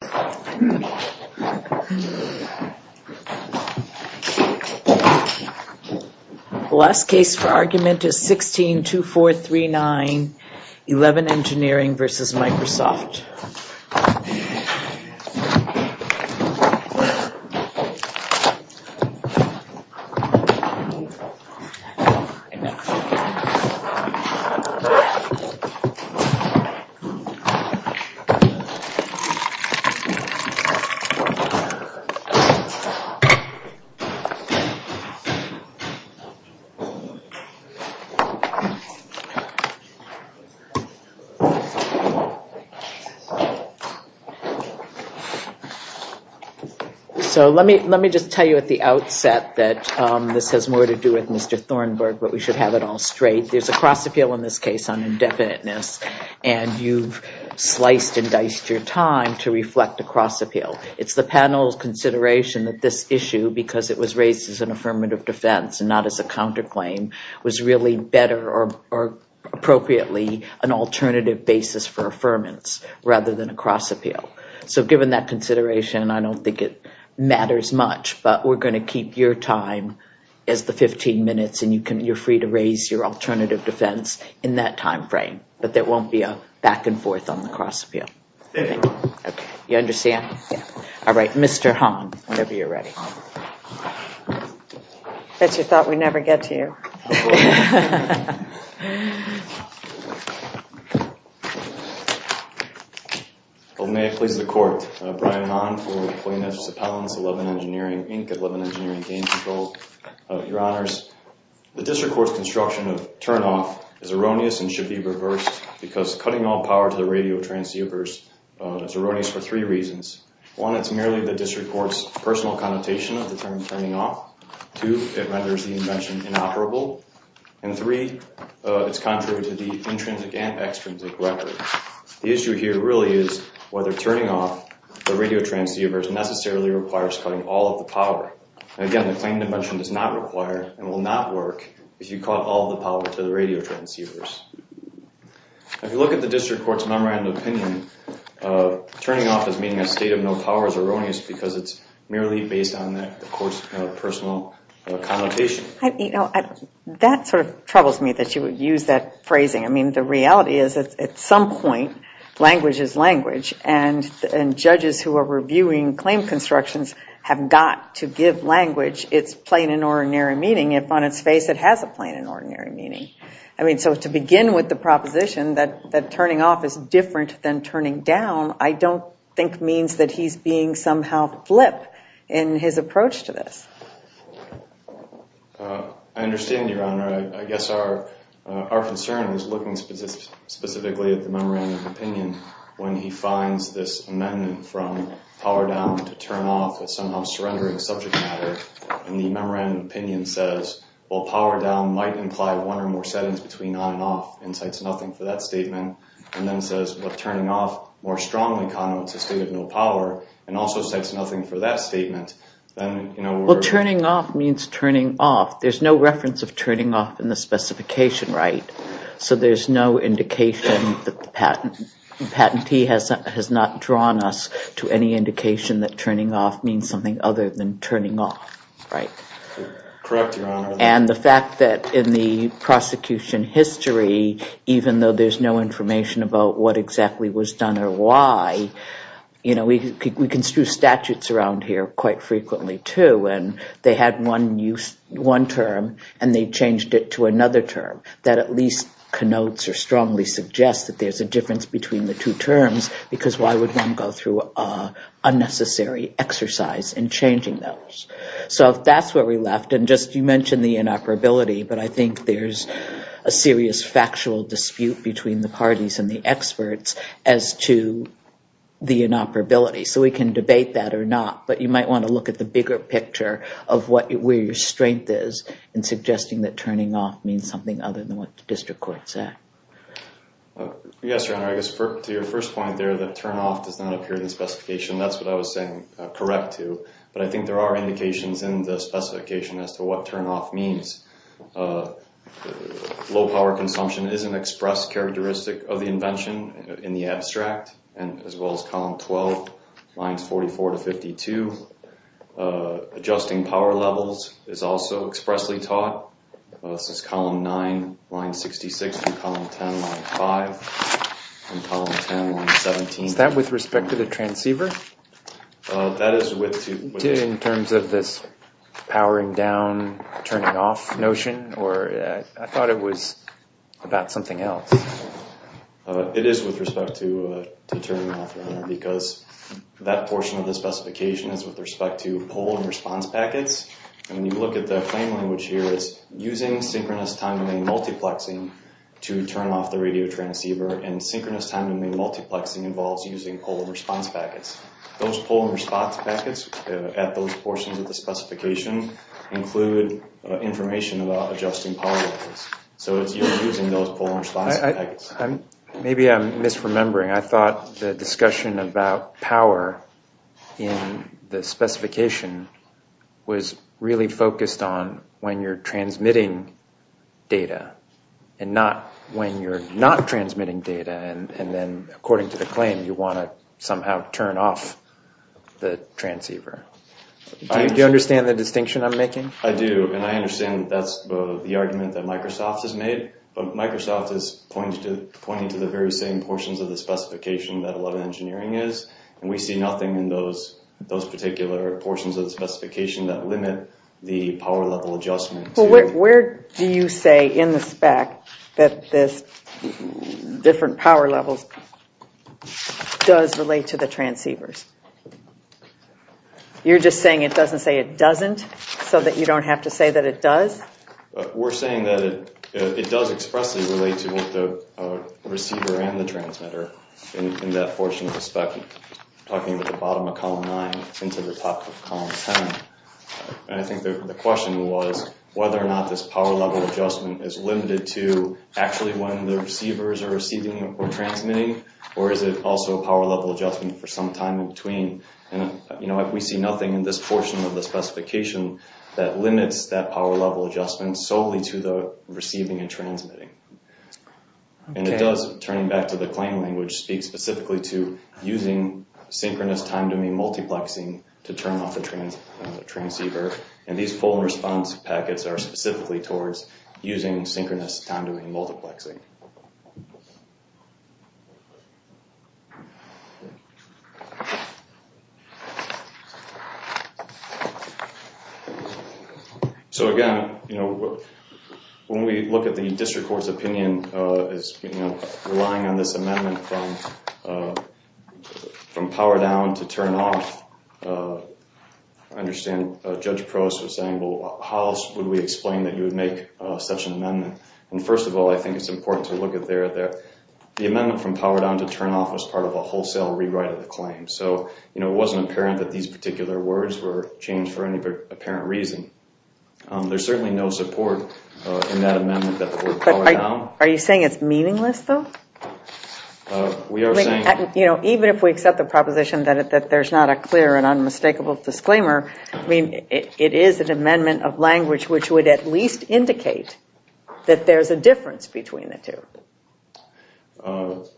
The last case for argument is 16-2439, 11 Engineering v. Microsoft. Let me just tell you at the outset that this has more to do with Mr. Thornburg, but we should have it all straight. There's a cross-appeal in this case on indefiniteness, and you've indiced your time to reflect a cross-appeal. It's the panel's consideration that this issue, because it was raised as an affirmative defense and not as a counterclaim, was really better or appropriately an alternative basis for affirmance rather than a cross-appeal. So given that consideration, I don't think it matters much, but we're going to keep your time as the 15 minutes, and you're free to raise your alternative defense in that timeframe, but there won't be a back-and-forth on the cross-appeal. You understand? All right. Mr. Hong, whenever you're ready. I thought we'd never get to you. May it please the Court. Brian Hong for plaintiffs' appellants, 11 Engineering, Inc., 11 Engineering v. Game Control. Your Honors, the district court's construction of turnoff is erroneous and should be reversed because cutting all power to the radio transceivers is erroneous for three reasons. One, it's merely the district court's personal connotation of the term turning off. Two, it renders the invention inoperable. And three, it's contrary to the intrinsic and extrinsic records. The issue here really is whether turning off the radio transceivers necessarily requires cutting all of the power. And again, the claim to mention does not require and will not work if you cut all the power to the radio transceivers. If you look at the district court's memorandum of opinion, turning off as meaning a state of no power is erroneous because it's merely based on the court's personal connotation. That sort of troubles me that you would use that phrasing. I mean, the reality is that at some point, language is language, and judges who are reviewing claim constructions have got to give language its plain and ordinary meaning if on its face it has a plain and ordinary meaning. I mean, so to begin with the proposition that turning off is different than turning down, I don't think means that he's being somehow flip in his approach to this. I understand, Your Honor. I guess our concern is looking specifically at the memorandum of opinion when he finds this amendment from power down to turn off as somehow surrendering a subject matter, and the memorandum of opinion says, well, power down might imply one or more settings between on and off, and cites nothing for that statement, and then says, but turning off more strongly connotes a state of no power, and also cites nothing for that statement. Well, turning off means turning off. There's no reference of turning off in the specification right, so there's no indication that the patentee has not drawn us to any indication that turning off means something other than turning off, right? Correct, Your Honor. And the fact that in the prosecution history, even though there's no information about what exactly was done or why, you know, we construe statutes around here quite frequently, too, when they had one use, one term, and they changed it to another term, that at least connotes or strongly suggests that there's a difference between the two terms, because why would one go through unnecessary exercise in changing those? So if that's where we left, and just you mentioned the inoperability, but I think there's a serious factual dispute between the parties and the experts as to the inoperability, so we can look at the bigger picture of where your strength is in suggesting that turning off means something other than what the district court said. Yes, Your Honor, I guess to your first point there, that turn off does not appear in the specification, that's what I was saying correct to, but I think there are indications in the specification as to what turn off means. Low power consumption is an expressed characteristic of the invention in the abstract, as well as column 12, lines 44 to 52. Adjusting power levels is also expressly taught. This is column 9, line 66, and column 10, line 5, and column 10, line 17. Is that with respect to the transceiver? That is with respect to... In terms of this powering down, turning off notion, or I thought it was about something else. It is with respect to turning off, Your Honor, because that portion of the specification is with respect to poll and response packets, and when you look at the claim language here, it's using synchronous time domain multiplexing to turn off the radio transceiver, and synchronous time domain multiplexing involves using poll and response packets. Those poll and response packets at those portions of the specification include information about adjusting power levels, so it's using those poll and response packets. Maybe I'm misremembering. I thought the discussion about power in the specification was really focused on when you're transmitting data, and not when you're not transmitting data, and then according to the claim, you want to somehow turn off the transceiver. Do you understand the distinction I'm making? I do, and I understand that's the argument that Microsoft has made, but Microsoft is pointing to the very same portions of the specification that 11 Engineering is, and we see nothing in those particular portions of the specification that limit the power level adjustment. Where do you say in the spec that this different power levels does relate to the transceivers? You're just saying it doesn't say it doesn't, so that you don't have to say that it does? We're saying that it does expressly relate to both the receiver and the transmitter in that portion of the spec, talking about the bottom of column 9 into the top of column 10. I think the question was whether or not this power level adjustment is limited to actually when the receivers are receiving or transmitting, or is it also a power level adjustment for some time in between? We see nothing in this portion of the specification that limits that power level adjustment solely to the receiving and transmitting. It does, turning back to the claim language, speak specifically to using synchronous time doing multiplexing to turn off the transceiver, and these pull and response packets are specifically towards using synchronous time doing multiplexing. Again, when we look at the District Court's opinion as relying on this amendment from power down to turn off, I understand Judge Prost was saying, how would we explain that you would make such an amendment? First of all, I think it's important to look at the amendment from power down to turn off as part of a wholesale rewrite of the claim, so it wasn't apparent that these particular words were changed for any apparent reason. There's certainly no support in that amendment that the word power down... Are you saying it's meaningless, though? We are saying... Even if we accept the proposition that there's not a clear and unmistakable disclaimer, it is an amendment of language which would at least indicate that there's a difference between the two.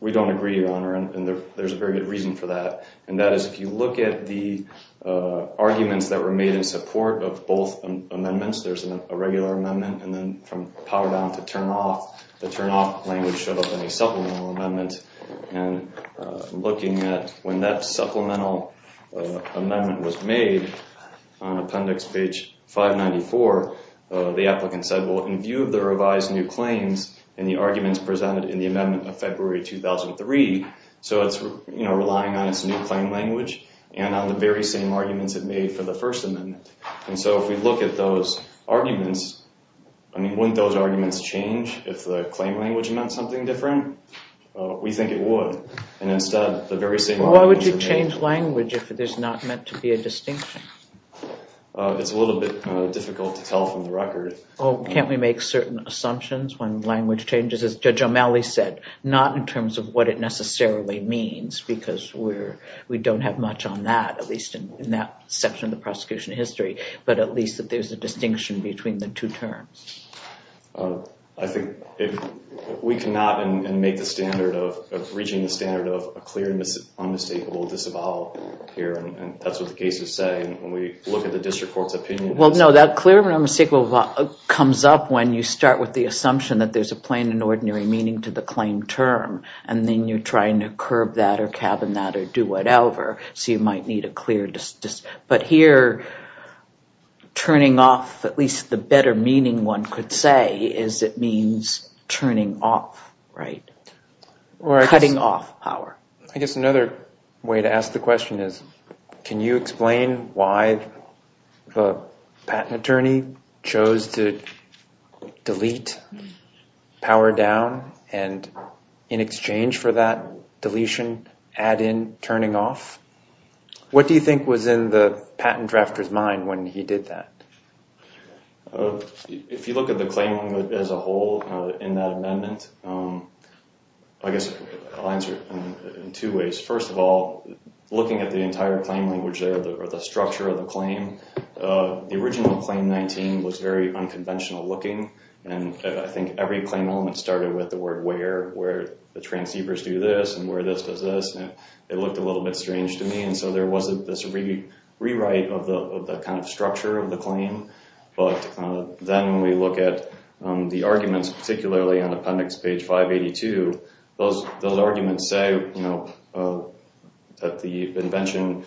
We don't agree, Your Honor, and there's a very good reason for that, and that is if you look at the arguments that were made in support of both amendments, there's a regular amendment and then from power down to turn off, the turn off language showed up in a supplemental amendment, and looking at when that supplemental amendment was made on appendix page 594, the applicant said, well, in view of the revised new claims and the arguments presented in the amendment of February 2003, so it's relying on its new claim language and on the very same arguments it made for the first amendment, and so if we look at those arguments, wouldn't those arguments change if the claim language meant something different? We think it would, and instead the very same... Why would you change language if there's not meant to be a distinction? It's a little bit difficult to tell from the record. Can't we make certain assumptions when language changes, as Judge O'Malley said, not in terms of what it necessarily means, because we don't have much on that, at least in that section of the prosecution history, but at least that there's a distinction between the two terms? I think we cannot make the standard of reaching the standard of a clear and unmistakable disavowal here, and that's what the cases say, and when we look at the district court's opinion... Well, no, that clear and unmistakable disavowal comes up when you start with the assumption that there's a plain and ordinary meaning to the claim term, and then you're trying to curb that or cabin that or do whatever, so you might need a clear... But here, turning off, at least the better meaning one could say, is it means turning off, right? Cutting off power. I guess another way to ask the question is, can you explain why the patent attorney chose to delete, power down, and in exchange for that deletion, add in turning off? What do you think was in the patent drafter's mind when he did that? If you look at the claim as a whole in that amendment, I guess I'll answer it in two ways. First of all, looking at the entire claim language or the structure of the claim, the claim is very unconventional looking, and I think every claim element started with the word where, where the transceivers do this and where this does this, and it looked a little bit strange to me, and so there wasn't this rewrite of the kind of structure of the claim, but then when we look at the arguments, particularly on appendix page 582, those arguments say that the invention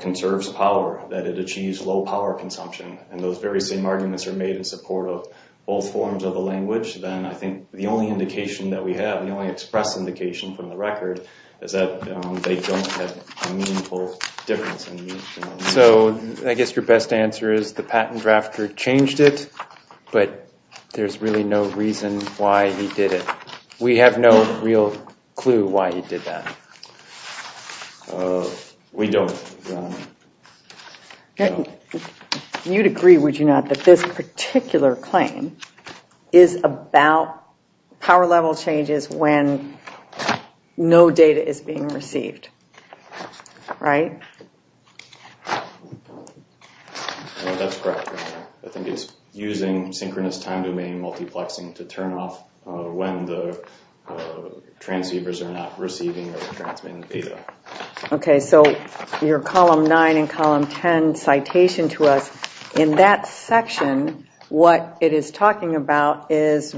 conserves power, that it achieves low power consumption, and those very same arguments are made in support of both forms of the language, then I think the only indication that we have, the only express indication from the record, is that they don't have a meaningful difference. So I guess your best answer is the patent drafter changed it, but there's really no reason why he did it. We have no real clue why he did that. We don't. You'd agree, would you not, that this particular claim is about power level changes when no data is being received, right? That's correct. I think it's using synchronous time domain multiplexing to turn off when the transceivers are not receiving or transmitting data. Okay, so your column 9 and column 10 citation to us, in that section, what it is talking about is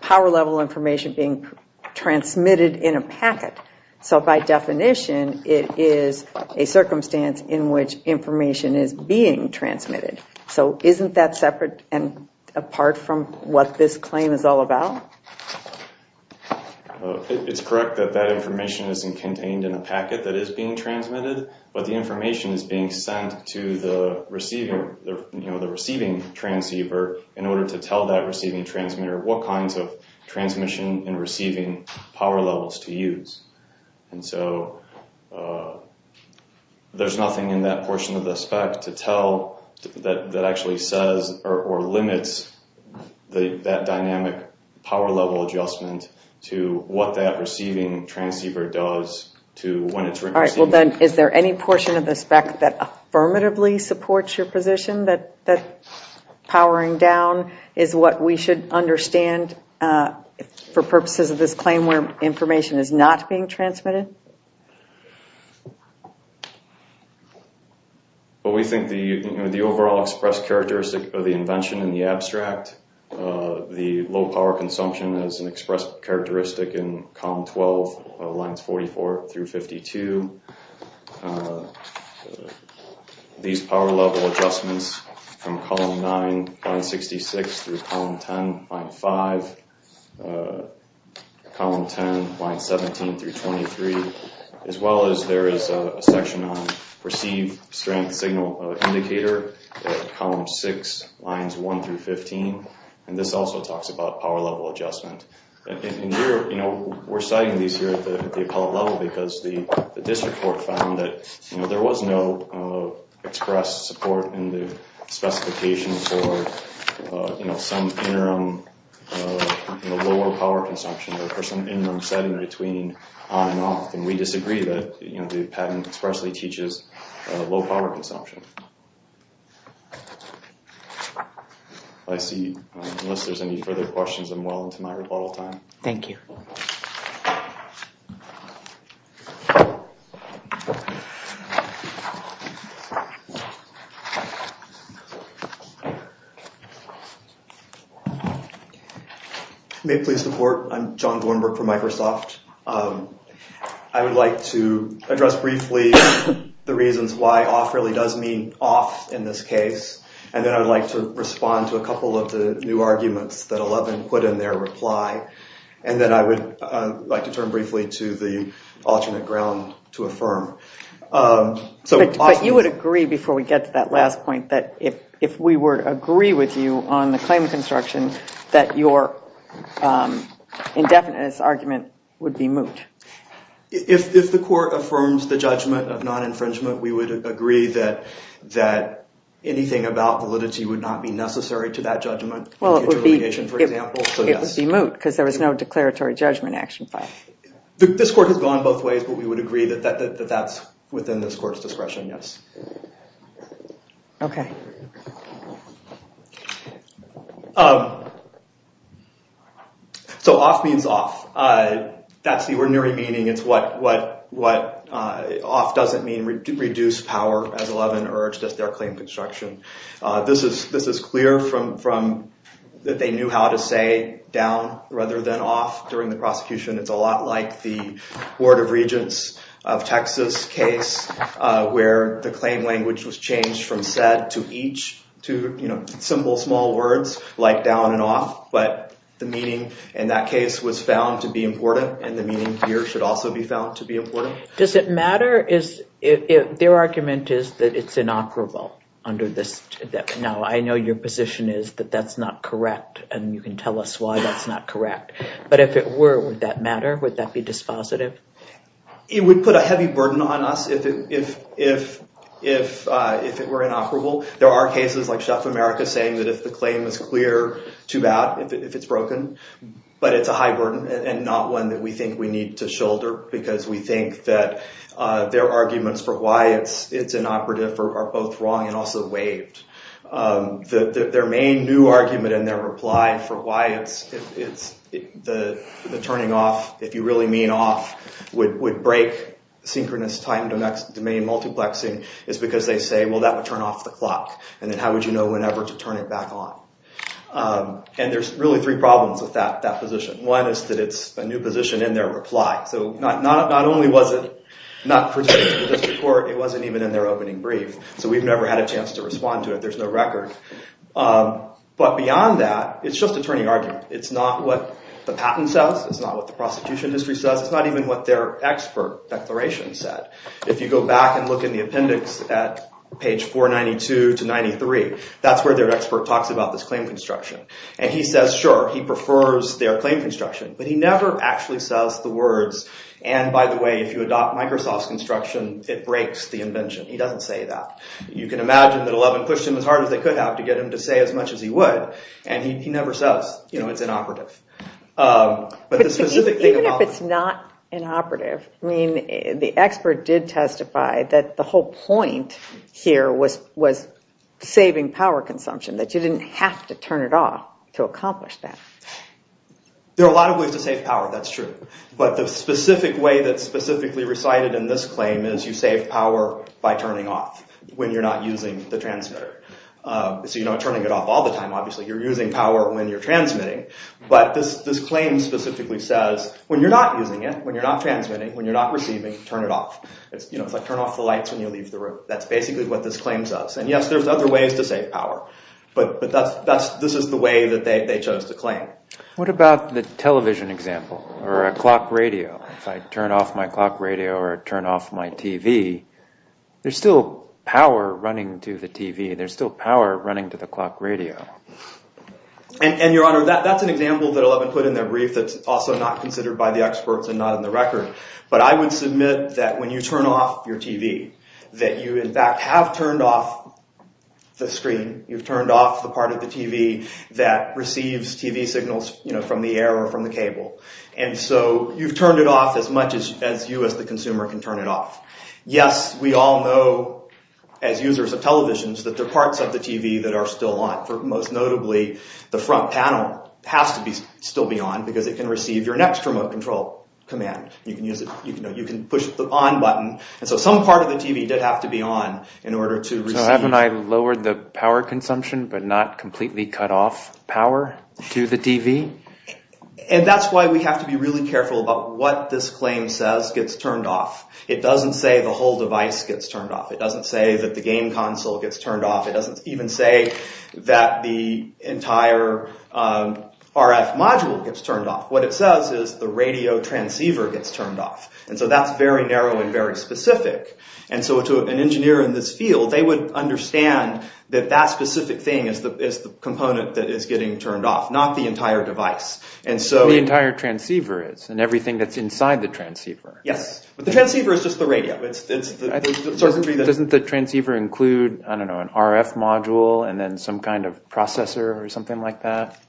power level information being transmitted in a packet. So by definition, it is a circumstance in which information is being transmitted. So isn't that separate and apart from what this claim is all about? It's correct that that information isn't contained in a packet that is being transmitted, but the information is being sent to the receiving transceiver in order to tell that receiving transmitter what kinds of transmission and receiving power levels to use. And so there's nothing in that portion of the spec to tell that actually says or limits that dynamic power level adjustment to what that receiving transceiver does to when it's receiving. All right, well then, is there any portion of the spec that affirmatively supports your position that powering down is what we should understand for purposes of this claim where information is not being transmitted? Well, we think the overall expressed characteristic of the invention in the abstract, the low power consumption is an expressed characteristic in column 12, lines 44 through 52. These power level adjustments are in line 17 through 23, as well as there is a section on perceived strength signal indicator, column 6, lines 1 through 15. And this also talks about power level adjustment. And we're citing these here at the appellate level because the district court found that there was no expressed support in the specification for some interim lower power consumption or for some interim setting between on and off. And we disagree that the patent expressly teaches low power consumption. I see, unless there's any further questions, I'm well into my rebuttal time. Thank you. May it please the court, I'm John Gornberg from Microsoft. I would like to address briefly the reasons why off really does mean off in this case. And then I would like to respond to a couple of the new arguments that Eleven put in their reply. And then I would like to turn briefly to the alternate ground to affirm. But you would agree, before we get to that last point, that if we were to agree with you on the claim of construction, that your indefinite argument would be moot. If the court affirms the judgment of non-infringement, we would agree that anything about validity would not be necessary to that judgment. Well, it would be moot because there was no declaratory judgment action file. This court has gone both ways, but we would agree that that's within this court's discretion, yes. Okay. So off means off. That's the ordinary meaning. It's what off doesn't mean, reduce power as This is clear from that they knew how to say down rather than off during the prosecution. It's a lot like the Board of Regents of Texas case where the claim language was changed from said to each, you know, simple small words like down and off. But the meaning in that case was found to be important and the meaning here should also be found to be important. Does it matter? Their argument is that it's inoperable under this. Now, I know your position is that that's not correct, and you can tell us why that's not correct. But if it were, would that matter? Would that be dispositive? It would put a heavy burden on us if it were inoperable. There are cases like Chef America saying that if the claim is clear, too bad if it's broken. But it's a high burden and not one that we think we need to shoulder because we think that their arguments for why it's inoperative are both wrong and also waived. Their main new argument and their reply for why the turning off, if you really mean off, would break synchronous time domain multiplexing is because they say, well, that would turn off the clock. And then how would you know whenever to turn it back on? And there's really three problems with that position. One is that it's a new position in their reply. So not only was it not presented to the district court, it wasn't even in their opening brief. So we've never had a chance to respond to it. There's no record. But beyond that, it's just attorney argument. It's not what the patent says. It's not what the prosecution industry says. It's not even what their expert declaration said. If you go back and look in the appendix at page 492 to 93, that's where their expert talks about this claim construction. And he says, sure, he prefers their claim construction. But he never actually says the words, and by the way, if you adopt Microsoft's construction, it breaks the invention. He doesn't say that. You can imagine that 11 pushed him as hard as they could have to get him to say as much as he would. And he never says, you know, it's inoperative. Even if it's not inoperative, I mean, the expert did testify that the whole point here was saving power consumption, that you didn't have to turn it off to accomplish that. There are a lot of ways to save power. That's true. But the specific way that's specifically recited in this claim is you save power by turning off when you're not using the transmitter. So you're not turning it off all the time, obviously. You're using power when you're transmitting. But this claim specifically says when you're not using it, when you're not transmitting, when you're not receiving, turn it off. It's like turn off the lights when you leave the room. That's basically what this claim says. And yes, there's other ways to save power. But this is the way that they chose to claim. What about the television example or a clock radio? If I turn off my clock radio or turn off my TV, there's still power running to the TV. There's still power running to the clock radio. And, Your Honor, that's an example that Eleven put in their brief that's also not considered by the experts and not on the record. But I would submit that when you turn off your TV, that you, in fact, have turned off the screen. You've turned off the part of the TV that receives TV signals from the air or from the cable. And so you've turned it off as much as you as the consumer can turn it off. Yes, we all know as users of televisions that there are parts of the TV that are still on. Most notably, the front panel has to still be on because it can receive your next remote control command. You can push the on button. And so some part of the TV did have to be on in order to receive. So haven't I lowered the power consumption but not completely cut off power to the TV? And that's why we have to be really careful about what this claim says gets turned off. It doesn't say the whole device gets turned off. It doesn't say that the game console gets turned off. It doesn't even say that the entire RF module gets turned off. What it says is the radio transceiver gets turned off. And so that's very narrow and very specific. And so to an engineer in this field, they would understand that that specific thing is the component that is getting turned off, not the entire device. The entire transceiver is, and everything that's inside the transceiver. Yes, but the transceiver is just the radio. Doesn't the transceiver include, I don't know, an RF module and then some kind of processor or something like that?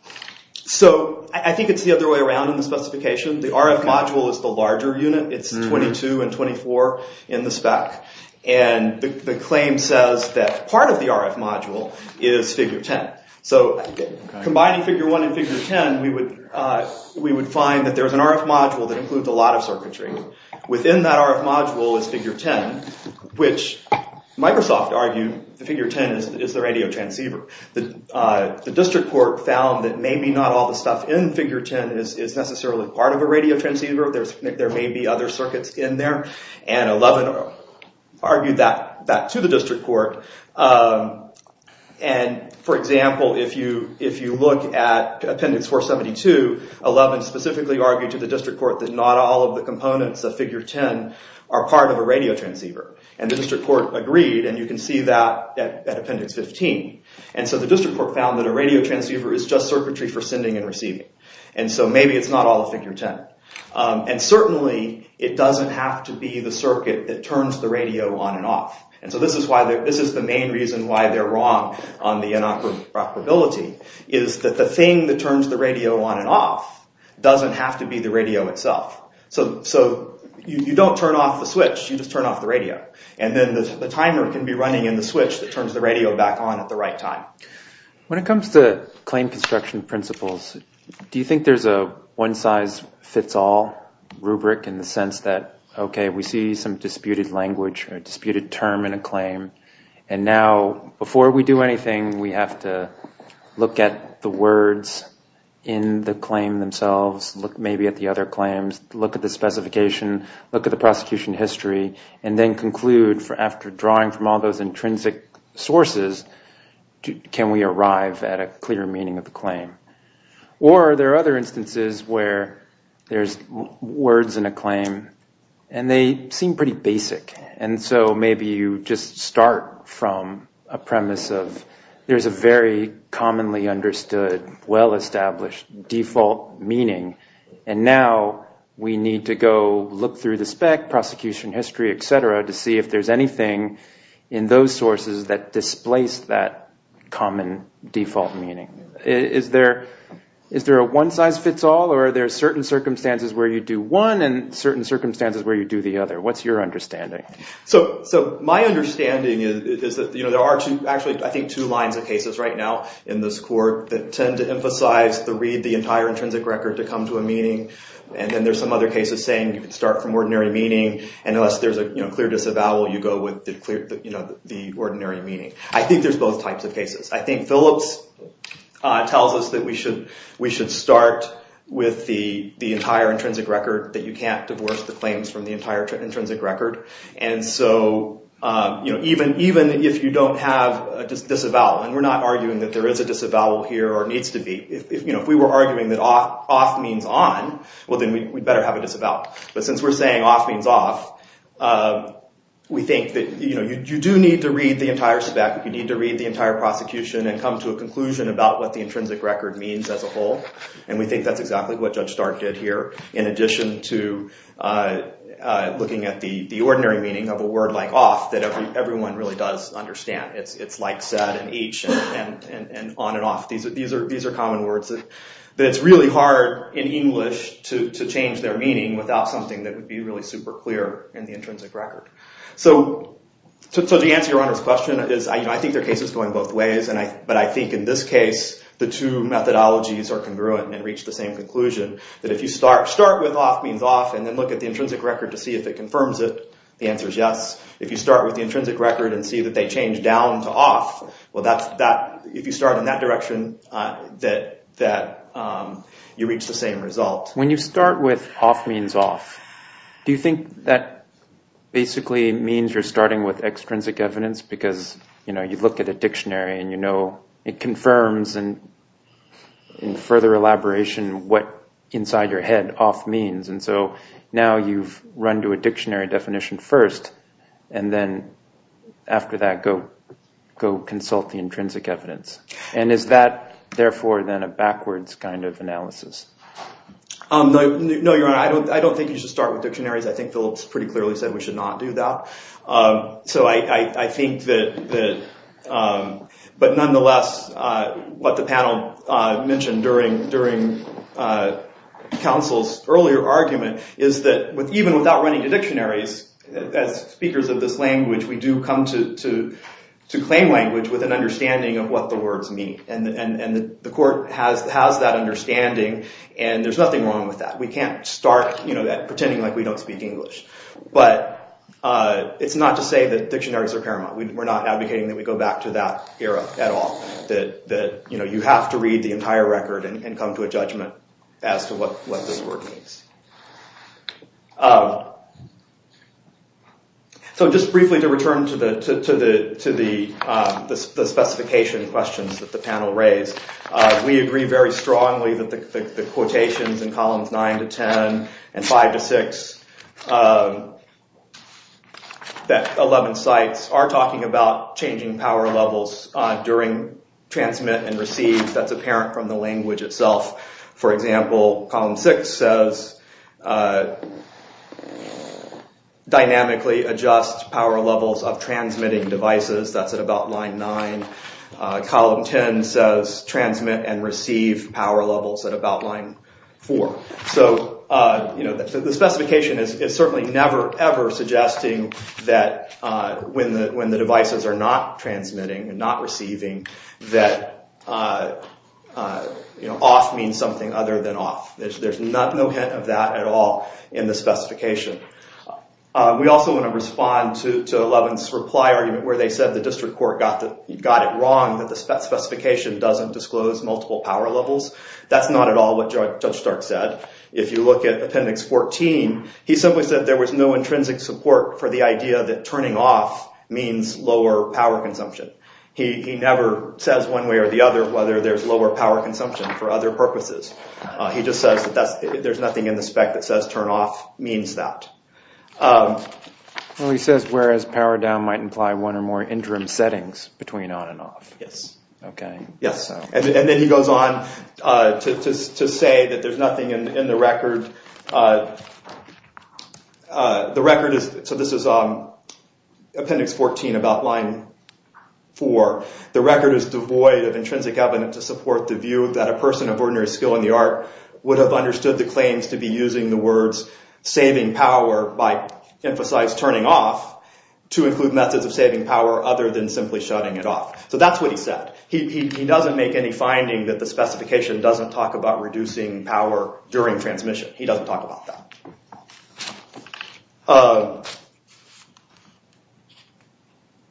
So I think it's the other way around in the specification. The RF module is the larger unit. It's 22 and 24 in the spec. And the claim says that part of the RF module is figure 10. So combining figure 1 and figure 10, we would find that there's an RF module that includes a lot of circuitry. Within that RF module is figure 10, which Microsoft argued figure 10 is the radio transceiver. The district court found that maybe not all the stuff in figure 10 is necessarily part of a radio transceiver. There may be other circuits in there. And 11 argued that back to the district court. And, for example, if you look at Appendix 472, 11 specifically argued to the district court that not all of the components of figure 10 are part of a radio transceiver. And the district court agreed, and you can see that at Appendix 15. And so the district court found that a radio transceiver is just circuitry for sending and receiving. And so maybe it's not all of figure 10. And certainly it doesn't have to be the circuit that turns the radio on and off. And so this is the main reason why they're wrong on the inoperability is that the thing that turns the radio on and off doesn't have to be the radio itself. So you don't turn off the switch. You just turn off the radio. And then the timer can be running in the switch that turns the radio back on at the right time. When it comes to claim construction principles, do you think there's a one-size-fits-all rubric in the sense that, OK, we see some disputed language or disputed term in a claim. And now before we do anything, we have to look at the words in the claim themselves, look maybe at the other claims, look at the specification, look at the prosecution history, and then conclude after drawing from all those intrinsic sources, can we arrive at a clear meaning of the claim? Or are there other instances where there's words in a claim and they seem pretty basic? And so maybe you just start from a premise of there's a very commonly understood, well-established default meaning. And now we need to go look through the spec, prosecution history, et cetera, to see if there's anything in those sources that displace that common default meaning. Is there a one-size-fits-all or are there certain circumstances where you do one and certain circumstances where you do the other? What's your understanding? So my understanding is that there are actually, I think, two lines of cases right now in this court that tend to emphasize the read the entire intrinsic record to come to a meaning. And then there's some other cases saying you can start from ordinary meaning. And unless there's a clear disavowal, you go with the ordinary meaning. I think there's both types of cases. I think Phillips tells us that we should start with the entire intrinsic record, that you can't divorce the claims from the entire intrinsic record. And so even if you don't have a disavowal, and we're not arguing that there is a disavowal here or needs to be. If we were arguing that off means on, well, then we'd better have a disavowal. But since we're saying off means off, we think that you do need to read the entire spec. You need to read the entire prosecution and come to a conclusion about what the intrinsic record means as a whole. And we think that's exactly what Judge Stark did here in addition to looking at the ordinary meaning of a word like off that everyone really does understand. It's like said and each and on and off. These are common words. But it's really hard in English to change their meaning without something that would be really super clear in the intrinsic record. So to answer your Honor's question, I think there are cases going both ways. But I think in this case, the two methodologies are congruent and reach the same conclusion. That if you start with off means off and then look at the intrinsic record to see if it confirms it, the answer is yes. If you start with the intrinsic record and see that they change down to off, well, if you start in that direction, you reach the same result. When you start with off means off, do you think that basically means you're starting with extrinsic evidence? Because you look at a dictionary and you know it confirms in further elaboration what inside your head off means. And so now you've run to a dictionary definition first. And then after that, go consult the intrinsic evidence. And is that, therefore, then a backwards kind of analysis? No, Your Honor. I don't think you should start with dictionaries. I think Phillips pretty clearly said we should not do that. So I think that nonetheless, what the panel mentioned during counsel's earlier argument is that even without running to dictionaries, as speakers of this language, we do come to claim language with an understanding of what the words mean. And the court has that understanding, and there's nothing wrong with that. We can't start pretending like we don't speak English. But it's not to say that dictionaries are paramount. We're not advocating that we go back to that era at all. That you have to read the entire record and come to a judgment as to what this word means. So just briefly to return to the specification questions that the panel raised, we agree very strongly that the quotations in columns 9 to 10 and 5 to 6, that 11 cites are talking about changing power levels during transmit and receive. That's apparent from the language itself. For example, column 6 says dynamically adjust power levels of transmitting devices. That's at about line 9. Column 10 says transmit and receive power levels at about line 4. So the specification is certainly never, ever suggesting that when the devices are not transmitting and not receiving, that off means something other than off. There's no hint of that at all in the specification. We also want to respond to Levin's reply where they said the district court got it wrong, that the specification doesn't disclose multiple power levels. That's not at all what Judge Stark said. If you look at appendix 14, he simply said there was no intrinsic support for the idea that turning off means lower power consumption. He never says one way or the other whether there's lower power consumption for other purposes. He just says there's nothing in the spec that says turn off means that. He says whereas power down might imply one or more interim settings between on and off. Yes. Okay. Then he goes on to say that there's nothing in the record. So this is appendix 14 about line 4. The record is devoid of intrinsic evidence to support the view that a person of ordinary skill in the art would have understood the claims to be using the words saving power by emphasized turning off to include methods of saving power other than simply shutting it off. So that's what he said. He doesn't make any finding that the specification doesn't talk about reducing power during transmission. He doesn't talk about that.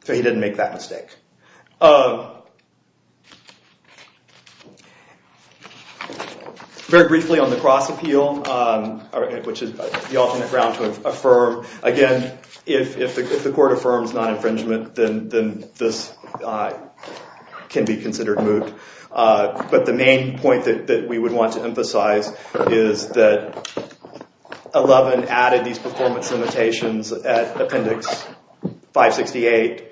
So he didn't make that mistake. Very briefly on the cross appeal, which is the alternate ground to affirm. Again, if the court affirms non-infringement, then this can be considered moot. But the main point that we would want to emphasize is that Eleven added these performance limitations at appendix 568.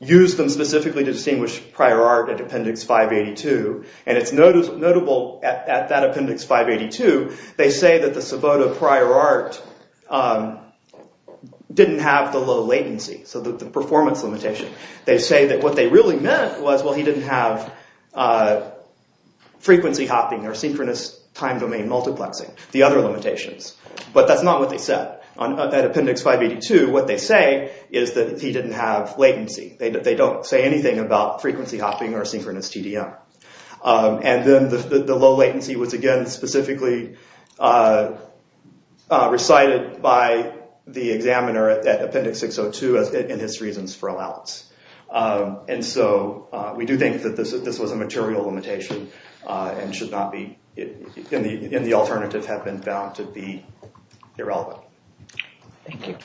Used them specifically to distinguish prior art at appendix 582. And it's notable at that appendix 582, they say that the Savota prior art didn't have the low latency. So the performance limitation. They say that what they really meant was, well, he didn't have frequency hopping or synchronous time domain multiplexing. The other limitations. But that's not what they said. At appendix 582, what they say is that he didn't have latency. They don't say anything about frequency hopping or synchronous TDM. And then the low latency was, again, specifically recited by the examiner at appendix 602 in his reasons for allowance. And so we do think that this was a material limitation and should not be in the alternative have been found to be irrelevant. Thank you.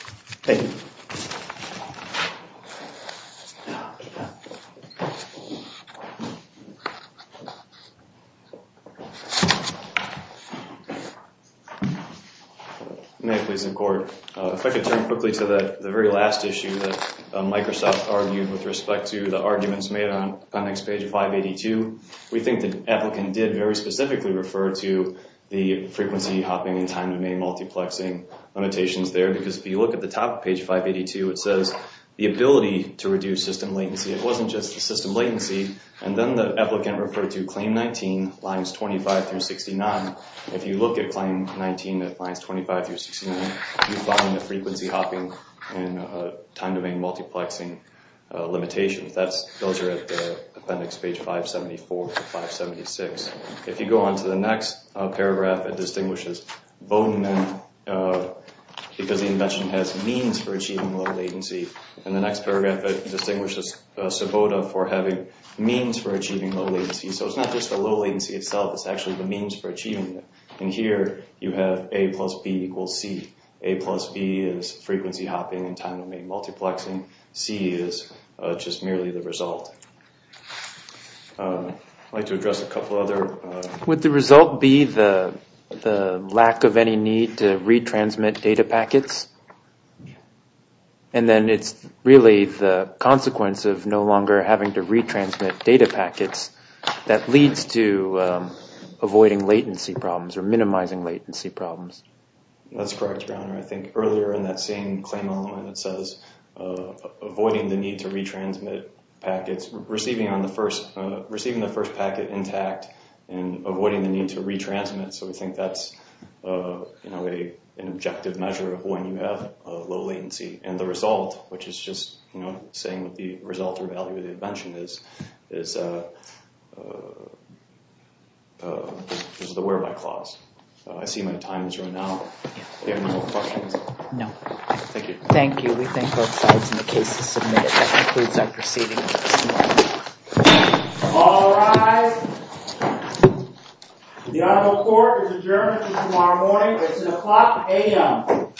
May I please in court? If I could turn quickly to the very last issue that Microsoft argued with respect to the arguments made on appendix 582. We think the applicant did very specifically refer to the frequency hopping and time domain multiplexing limitations there. Because if you look at the top of page 582, it says the ability to reduce system latency. It wasn't just the system latency. And then the applicant referred to claim 19, lines 25 through 69. If you look at claim 19 at lines 25 through 69, you find the frequency hopping and time domain multiplexing limitations. Those are at appendix page 574 to 576. If you go on to the next paragraph, it distinguishes Bowdoin because the invention has means for achieving low latency. In the next paragraph, it distinguishes Sabota for having means for achieving low latency. So it's not just the low latency itself. It's actually the means for achieving it. And here you have A plus B equals C. A plus B is frequency hopping and time domain multiplexing. C is just merely the result. I'd like to address a couple other. Would the result be the lack of any need to retransmit data packets? And then it's really the consequence of no longer having to retransmit data packets that leads to avoiding latency problems or minimizing latency problems. That's correct, Browner. I think earlier in that same claim element, it says avoiding the need to retransmit packets, receiving the first packet intact and avoiding the need to retransmit. So we think that's an objective measure of when you have low latency. And the result, which is just saying what the result or value of the invention is, is the whereby clause. I see my time has run out. Do you have any more questions? No. Thank you. Thank you. We thank both sides in the case to submit. That concludes our proceedings this morning. All rise. The honorable court is adjourned until tomorrow morning. It's at o'clock a.m.